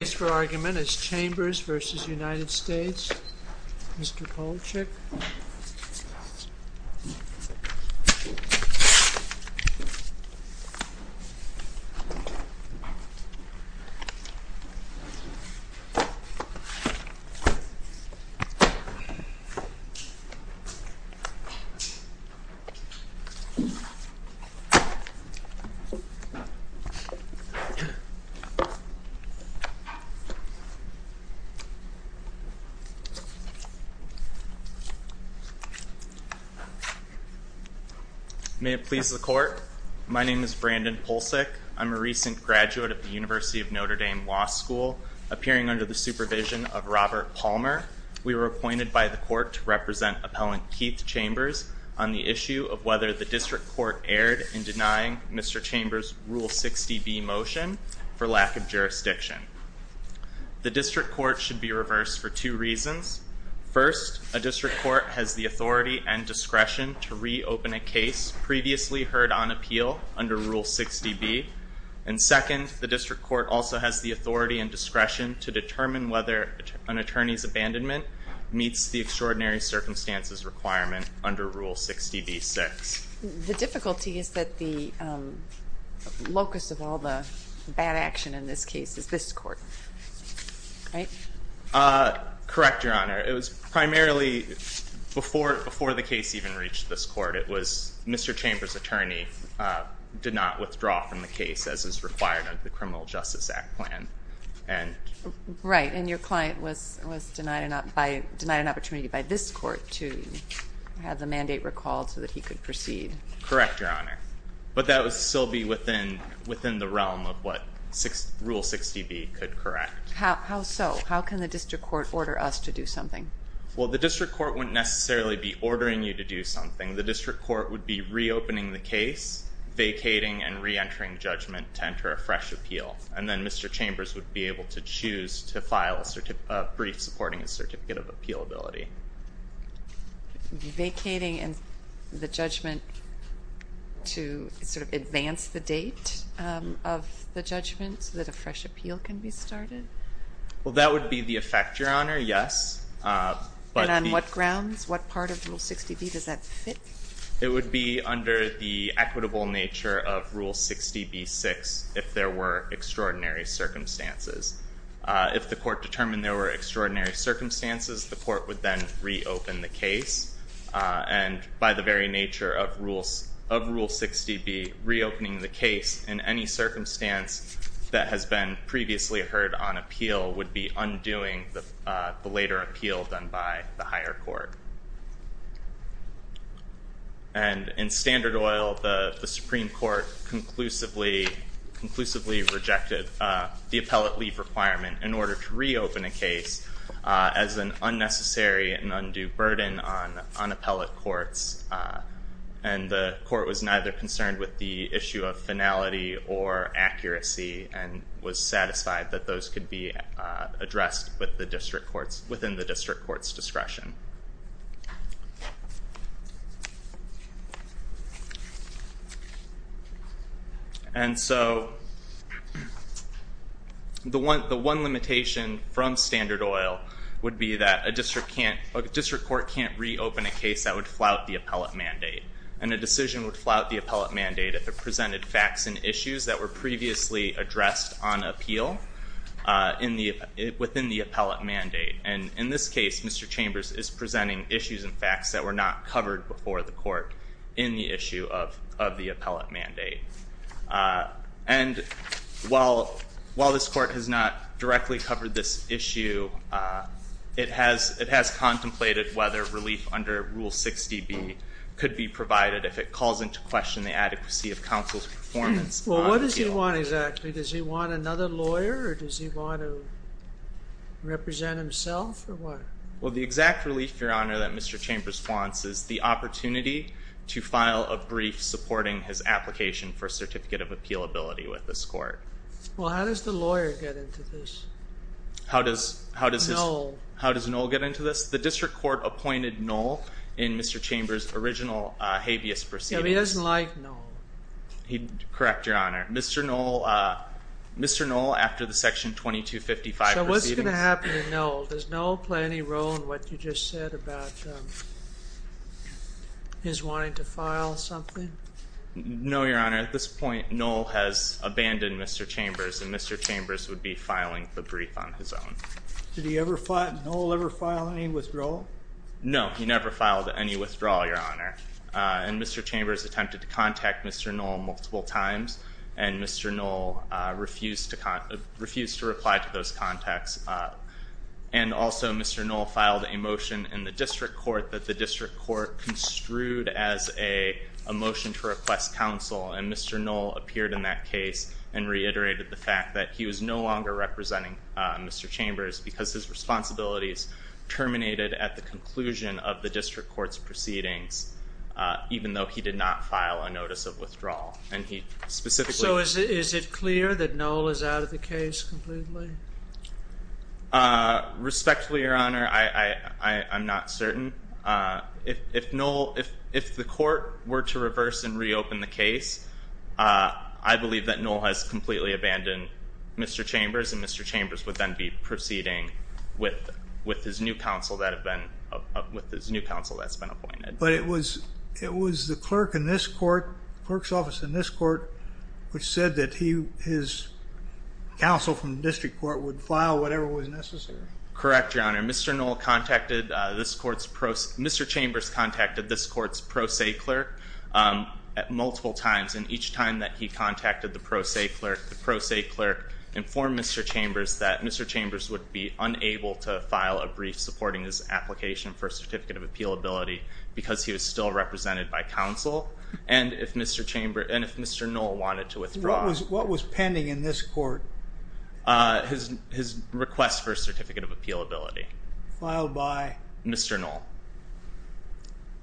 The case for argument is Chambers v. United States, Mr. Polachek. May it please the court, my name is Brandon Polachek, I'm a recent graduate of the University of Notre Dame Law School, appearing under the supervision of Robert Palmer. We were appointed by the court to represent Appellant Keith Chambers on the issue of whether the district court erred in denying Mr. Chambers' Rule 60b motion for lack of jurisdiction. The district court should be reversed for two reasons. First, a district court has the authority and discretion to reopen a case previously heard on appeal under Rule 60b. And second, the district court also has the authority and discretion to determine whether an attorney's abandonment meets the extraordinary circumstances requirement under Rule 60b-6. The difficulty is that the locus of all the bad action in this case is this court, right? Correct, Your Honor. It was primarily before the case even reached this court, it was Mr. Chambers' attorney did not withdraw from the case as is required under the Criminal Justice Act plan. Right. And your client was denied an opportunity by this court to have the mandate recalled so that he could proceed. Correct, Your Honor. But that would still be within the realm of what Rule 60b could correct. How so? How can the district court order us to do something? Well, the district court wouldn't necessarily be ordering you to do something. The district court would be reopening the case, vacating and re-entering judgment to file a brief supporting a certificate of appealability. Vacating the judgment to sort of advance the date of the judgment so that a fresh appeal can be started? Well, that would be the effect, Your Honor, yes. And on what grounds? What part of Rule 60b does that fit? It would be under the equitable nature of Rule 60b-6 if there were extraordinary circumstances. If the court determined there were extraordinary circumstances, the court would then reopen the case. And by the very nature of Rule 60b, reopening the case in any circumstance that has been previously heard on appeal would be undoing the later appeal done by the higher court. And in Standard Oil, the Supreme Court conclusively rejected the appellate leave requirement in order to reopen a case as an unnecessary and undue burden on appellate courts. And the court was neither concerned with the issue of finality or accuracy and was satisfied that those could be addressed within the district court's discretion. And so the one limitation from Standard Oil would be that a district court can't reopen a case that would flout the appellate mandate. And a decision would flout the appellate mandate if it presented facts and issues that were previously addressed on appeal within the appellate mandate. And in this case, Mr. Chambers is presenting issues and facts that were not covered before the court in the issue of the appellate mandate. And while this court has not directly covered this issue, it has contemplated whether relief under Rule 60b could be provided if it calls into question the adequacy of counsel's performance on appeal. Well, what does he want exactly? Does he want another lawyer or does he want to represent himself or what? Well, the exact relief, Your Honor, that Mr. Chambers wants is the opportunity to file a brief supporting his application for a certificate of appealability with this court. Well, how does the lawyer get into this? How does Knoll get into this? The district court appointed Knoll in Mr. Chambers' original habeas proceedings. But he doesn't like Knoll. Correct, Your Honor. Mr. Knoll, after the Section 2255 proceedings. So what's going to happen to Knoll? Does Knoll play any role in what you just said about his wanting to file something? No, Your Honor. At this point, Knoll has abandoned Mr. Chambers, and Mr. Chambers would be filing the brief on his own. Did Knoll ever file any withdrawal? No, he never filed any withdrawal, Your Honor. And Mr. Chambers attempted to contact Mr. Knoll multiple times, and Mr. Knoll refused to reply to those contacts. And also, Mr. Knoll filed a motion in the district court that the district court construed as a motion to request counsel, and Mr. Knoll appeared in that case and reiterated the fact that he was no longer representing Mr. Chambers because his responsibilities terminated at the conclusion of the district court's proceedings, even though he did not file a notice of withdrawal. So is it clear that Knoll is out of the case completely? Respectfully, Your Honor, I'm not certain. If the court were to reverse and reopen the case, I believe that Knoll has completely abandoned Mr. Chambers, and Mr. Chambers would then be proceeding with his new counsel that's been appointed. But it was the clerk's office in this court which said that his counsel from the district court would file whatever was necessary. Correct, Your Honor. Mr. Chambers contacted this court's pro se clerk multiple times, and each time that he contacted the pro se clerk, the pro se clerk informed Mr. Chambers that Mr. Chambers would be unable to file a brief supporting his application for a certificate of appealability because he was still represented by counsel, and if Mr. Knoll wanted to withdraw. What was pending in this court? His request for a certificate of appealability. Filed by? Mr. Knoll.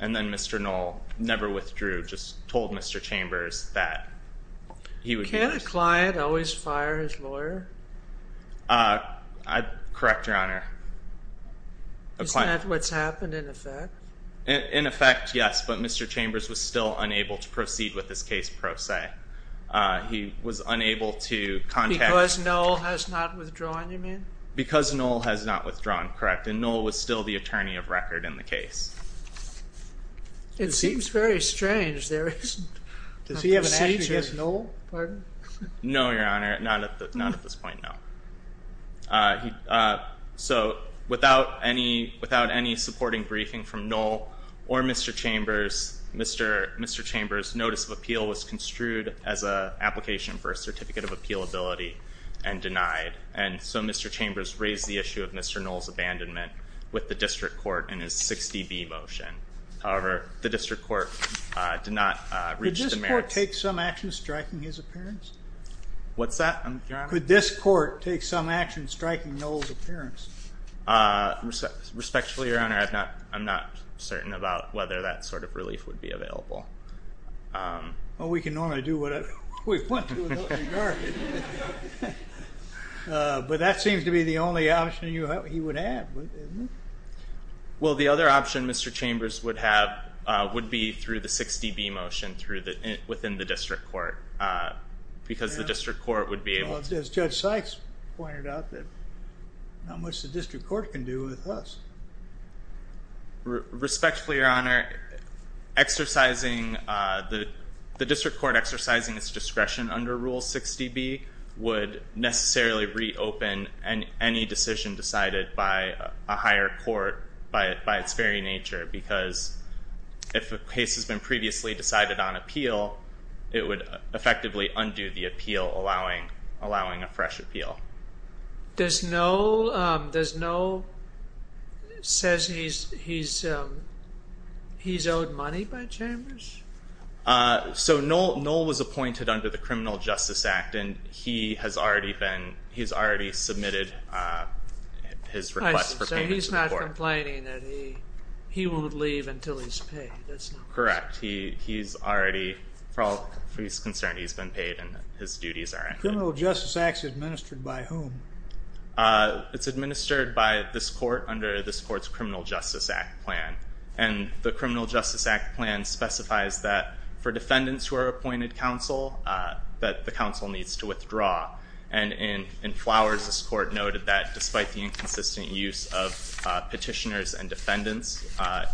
And then Mr. Knoll never withdrew, just told Mr. Chambers that he would not. Can't a client always fire his lawyer? Correct, Your Honor. Isn't that what's happened in effect? In effect, yes, but Mr. Chambers was still unable to proceed with his case pro se. He was unable to contact. Because Knoll has not withdrawn, you mean? Because Knoll has not withdrawn, correct, and Knoll was still the attorney of record in the case. It seems very strange. Does he have an action against Knoll? No, Your Honor, not at this point, no. So without any supporting briefing from Knoll or Mr. Chambers, Mr. Chambers' notice of appeal was construed as an application for a certificate of appealability and denied, and so Mr. Chambers raised the issue of Mr. Knoll's abandonment with the district court in his 60B motion. However, the district court did not reach the merits. Could this court take some action striking his appearance? What's that, Your Honor? Respectfully, Your Honor, I'm not certain about whether that sort of relief would be available. Well, we can normally do whatever we want to in that regard. But that seems to be the only option he would have, isn't it? Well, the other option Mr. Chambers would have would be through the 60B motion within the district court, because the district court would be able to. As Judge Sykes pointed out, not much the district court can do with us. Respectfully, Your Honor, the district court exercising its discretion under Rule 60B would necessarily reopen any decision decided by a higher court by its very nature, because if a case has been previously decided on appeal, it would effectively undo the appeal, allowing a fresh appeal. Does Knoll, says he's owed money by Chambers? So Knoll was appointed under the Criminal Justice Act, and he has already submitted his request for payment to the court. So he's not complaining that he won't leave until he's paid, is he? Correct. He's already, for all he's concerned, he's been paid and his duties are done. The Criminal Justice Act is administered by whom? It's administered by this court under this court's Criminal Justice Act plan. And the Criminal Justice Act plan specifies that for defendants who are appointed counsel, that the counsel needs to withdraw. And in Flowers, this court noted that despite the inconsistent use of petitioners and defendants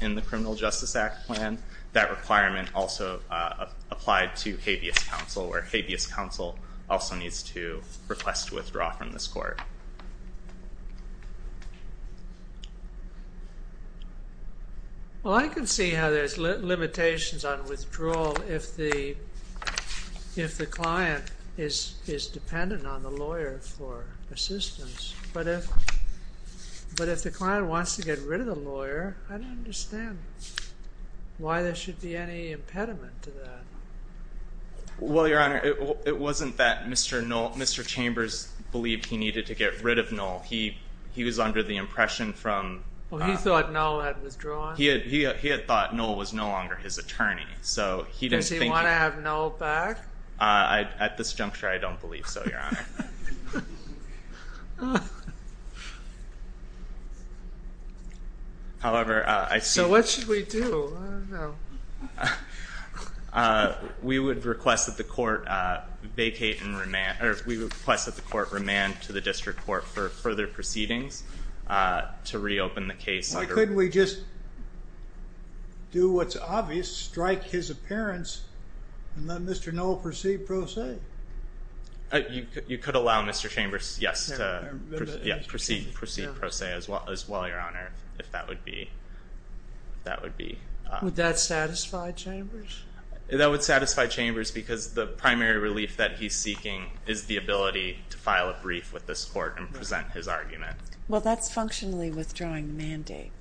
in the Criminal Justice Act plan, that requirement also applied to habeas counsel, where habeas counsel also needs to request withdrawal from this court. Well, I can see how there's limitations on withdrawal if the client is dependent on the lawyer for assistance. But if the client wants to get rid of the lawyer, I don't understand why there should be any impediment to that. Well, Your Honor, it wasn't that Mr. Chambers believed he needed to get rid of Knoll. He was under the impression from... Well, he thought Knoll had withdrawn? He had thought Knoll was no longer his attorney. Does he want to have Knoll back? However, I see... So what should we do? I don't know. We would request that the court vacate and remand, or we would request that the court remand to the district court for further proceedings to reopen the case. Why couldn't we just do what's obvious, strike his appearance, and let Mr. Knoll proceed pro se? You could allow Mr. Chambers, yes, to proceed pro se as well, Your Honor, if that would be... Would that satisfy Chambers? That would satisfy Chambers because the primary relief that he's seeking is the ability to file a brief with this court and present his argument. Well, that's functionally withdrawing the mandate.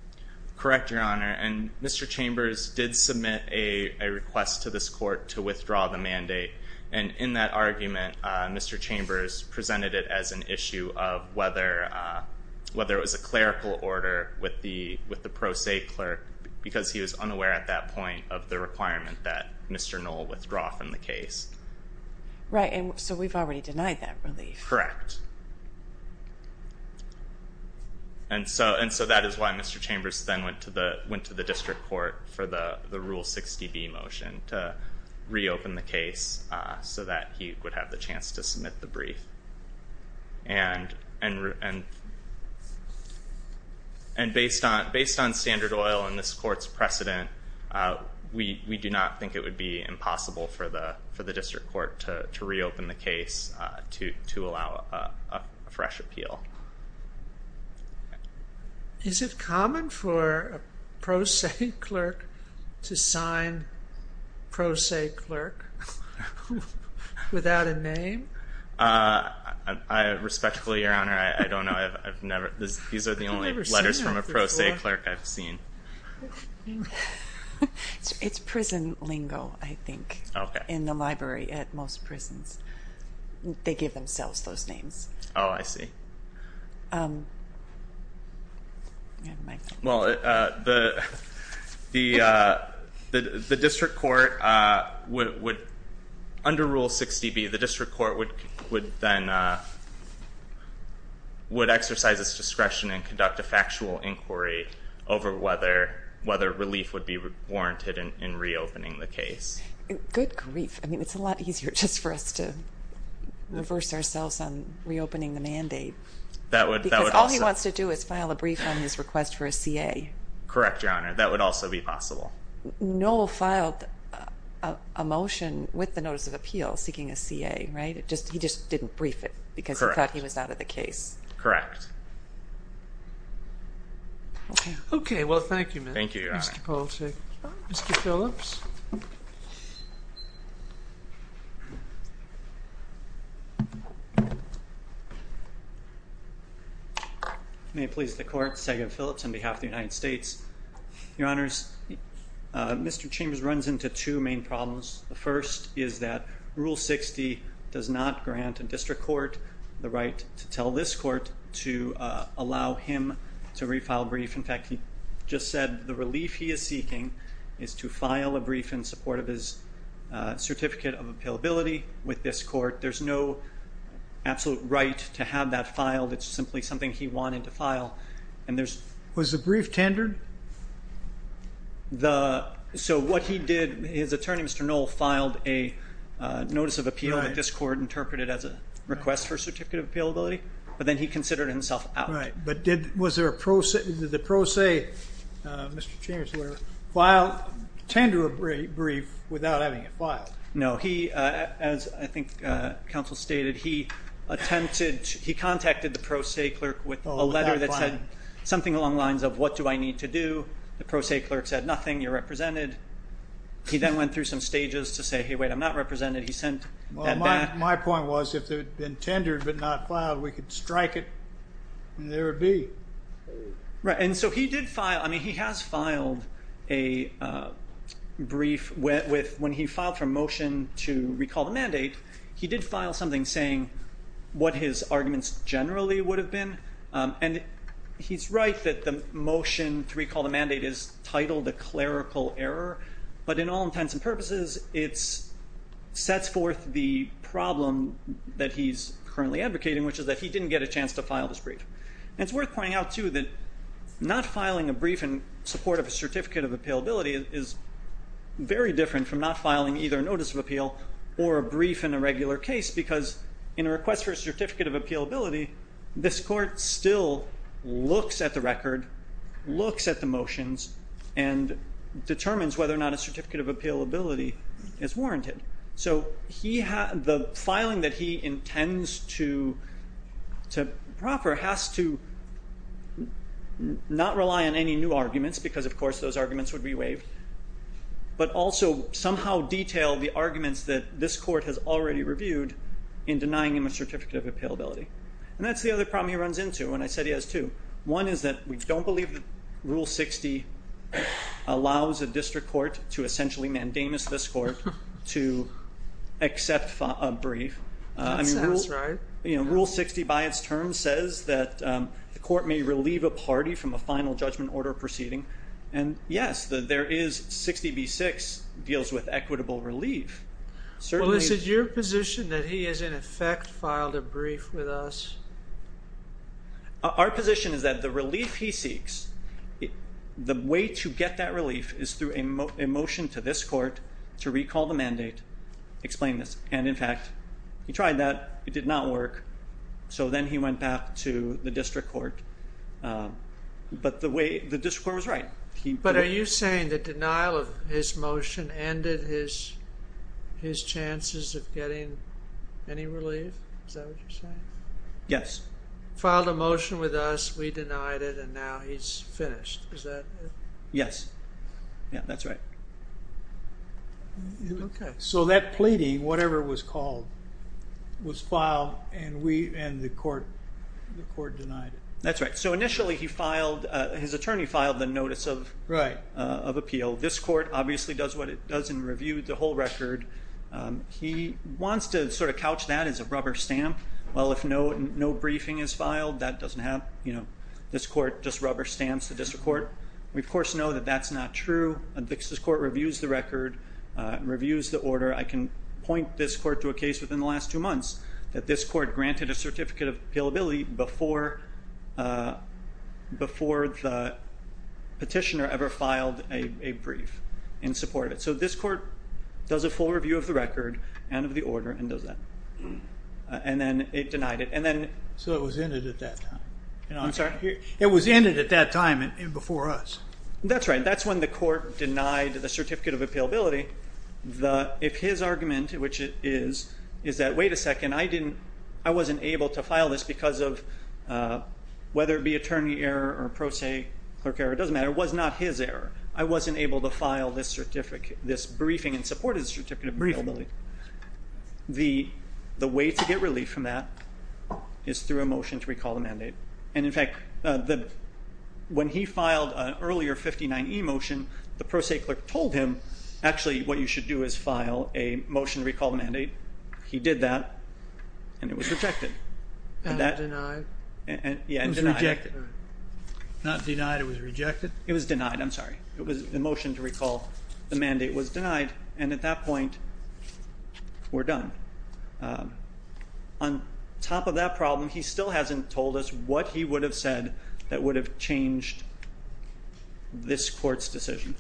Correct, Your Honor. And Mr. Chambers did submit a request to this court to withdraw the mandate. And in that argument, Mr. Chambers presented it as an issue of whether it was a clerical order with the pro se clerk because he was unaware at that point of the requirement that Mr. Knoll withdraw from the case. Right, and so we've already denied that relief. Correct. And so that is why Mr. Chambers then went to the district court for the Rule 60B motion, to reopen the case so that he would have the chance to submit the brief. And based on standard oil and this court's precedent, we do not think it would be impossible for the district court to reopen the case to allow a fresh appeal. Is it common for a pro se clerk to sign pro se clerk without a name? Respectfully, Your Honor, I don't know. These are the only letters from a pro se clerk I've seen. It's prison lingo, I think, in the library at most prisons. They give themselves those names. Oh, I see. Well, the district court would, under Rule 60B, the district court would then exercise its discretion and conduct a factual inquiry over whether relief would be warranted in reopening the case. Good grief. I mean, it's a lot easier just for us to reverse ourselves on reopening the mandate. Because all he wants to do is file a brief on his request for a CA. Correct, Your Honor. That would also be possible. Noel filed a motion with the Notice of Appeal seeking a CA, right? He just didn't brief it because he thought he was out of the case. Correct. Okay, well, thank you, Mr. Polishek. Thank you, Your Honor. Mr. Phillips. May it please the Court. Sagan Phillips on behalf of the United States. Your Honors, Mr. Chambers runs into two main problems. The first is that Rule 60 does not grant a district court the right to tell this court to allow him to refile a brief. In fact, he just said the relief he is seeking is to file a brief in support of his certificate of appealability with this court. There's no absolute right to have that filed. It's simply something he wanted to file. Was the brief tendered? So what he did, his attorney, Mr. Noel, filed a Notice of Appeal that this court interpreted as a request for certificate of appealability. But then he considered himself out. Right. But did the pro se, Mr. Chambers, tender a brief without having it filed? No, he, as I think counsel stated, he attempted, he contacted the pro se clerk with a letter that said something along the lines of, what do I need to do? The pro se clerk said, nothing, you're represented. He then went through some stages to say, hey, wait, I'm not represented. He sent that back. Well, my point was if it had been tendered but not filed, we could strike it and there would be. Right. And so he did file, I mean, he has filed a brief with, when he filed for motion to recall the mandate, he did file something saying what his arguments generally would have been. And he's right that the motion to recall the mandate is titled a clerical error. But in all intents and purposes, it sets forth the problem that he's currently advocating, which is that he didn't get a chance to file this brief. And it's worth pointing out, too, that not filing a brief in support of a certificate of appealability is very different from not filing either a notice of appeal or a brief in a regular case because in a request for a certificate of appealability, this court still looks at the record, looks at the motions, and determines whether or not a certificate of appealability is warranted. So the filing that he intends to proffer has to not rely on any new arguments because, of course, those arguments would be waived, but also somehow detail the arguments that this court has already reviewed in denying him a certificate of appealability. And that's the other problem he runs into, and I said he has two. One is that we don't believe that Rule 60 allows a district court to essentially mandamus this court to accept a brief. That's right. Rule 60 by its terms says that the court may relieve a party from a final judgment order proceeding. And, yes, there is 60B6 deals with equitable relief. Well, is it your position that he has, in effect, filed a brief with us? Our position is that the relief he seeks, the way to get that relief is through a motion to this court to recall the mandate, explain this. And, in fact, he tried that. It did not work. So then he went back to the district court. But the way the district court was right. But are you saying the denial of his motion ended his chances of getting any relief? Is that what you're saying? Yes. Filed a motion with us, we denied it, and now he's finished. Is that it? Yes. Yeah, that's right. Okay. So that pleading, whatever it was called, was filed, and the court denied it. That's right. So initially his attorney filed the notice of appeal. This court obviously does what it does in review the whole record. He wants to sort of couch that as a rubber stamp. Well, if no briefing is filed, that doesn't happen. This court just rubber stamps the district court. We, of course, know that that's not true. A vixen's court reviews the record, reviews the order. I can point this court to a case within the last two months that this court granted a certificate of appealability before the petitioner ever filed a brief in support of it. So this court does a full review of the record and of the order and does that. And then it denied it. So it was ended at that time. I'm sorry? It was ended at that time and before us. That's right. That's when the court denied the certificate of appealability. If his argument, which it is, is that, wait a second, I wasn't able to file this because of whether it be attorney error or pro se clerk error, it doesn't matter. It was not his error. I wasn't able to file this briefing in support of the certificate of appealability. The way to get relief from that is through a motion to recall the mandate. And, in fact, when he filed an earlier 59E motion, the pro se clerk told him, actually, what you should do is file a motion to recall the mandate. He did that and it was rejected. Not denied. It was rejected. Not denied, it was rejected? It was denied. I'm sorry. It was a motion to recall. The mandate was denied. And at that point, we're done. On top of that problem, he still hasn't told us what he would have said that would have changed this court's decision.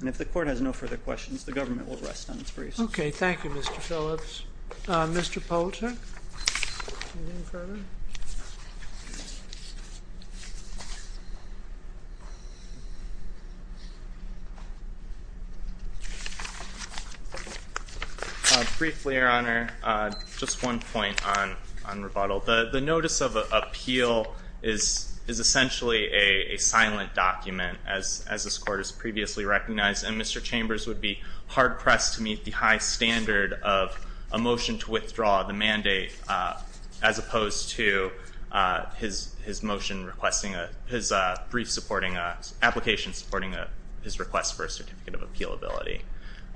And if the court has no further questions, the government will rest on its briefs. Okay, thank you, Mr. Phillips. Mr. Poulter? Any further? Briefly, Your Honor, just one point on rebuttal. The notice of appeal is essentially a silent document, as this court has previously recognized, and Mr. Chambers would be hard-pressed to meet the high standard of a motion to withdraw the mandate as opposed to his motion requesting his brief supporting, application supporting his request for a certificate of appealability.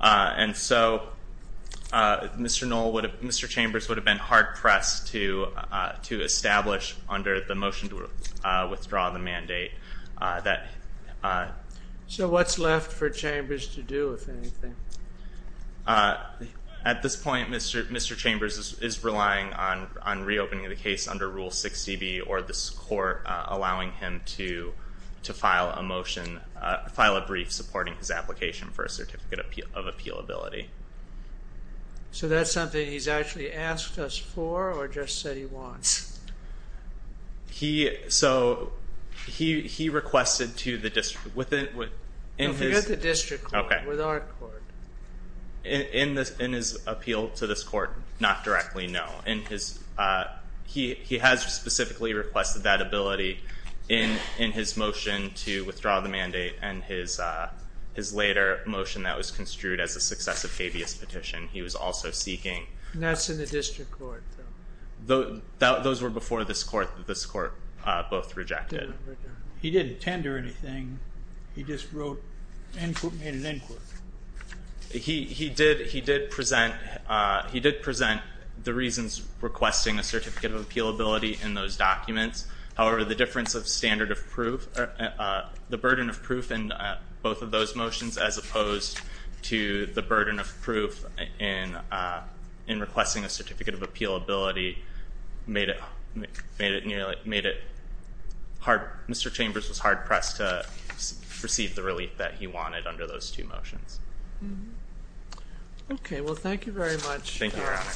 And so Mr. Chambers would have been hard-pressed to establish under the motion to withdraw the mandate. So what's left for Chambers to do, if anything? At this point, Mr. Chambers is relying on reopening the case under Rule 60B or this court allowing him to file a motion, file a brief supporting his application for a certificate of appealability. So that's something he's actually asked us for or just said he wants? So he requested to the district. No, for the district court, with our court. In his appeal to this court, not directly, no. He has specifically requested that ability in his motion to withdraw the mandate and his later motion that was construed as a successive habeas petition. He was also seeking. That's in the district court. Those were before this court. This court both rejected. He didn't tender anything. He just made an end quote. He did present the reasons requesting a certificate of appealability in those documents. However, the difference of standard of proof, the burden of proof in both of those motions as opposed to the burden of proof in requesting a certificate of appealability made it hard. Mr. Chambers was hard-pressed to receive the relief that he wanted under those two motions. Okay, well, thank you very much. Thank you, Your Honors.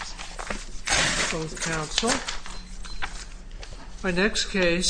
Thank you both, counsel. My next case.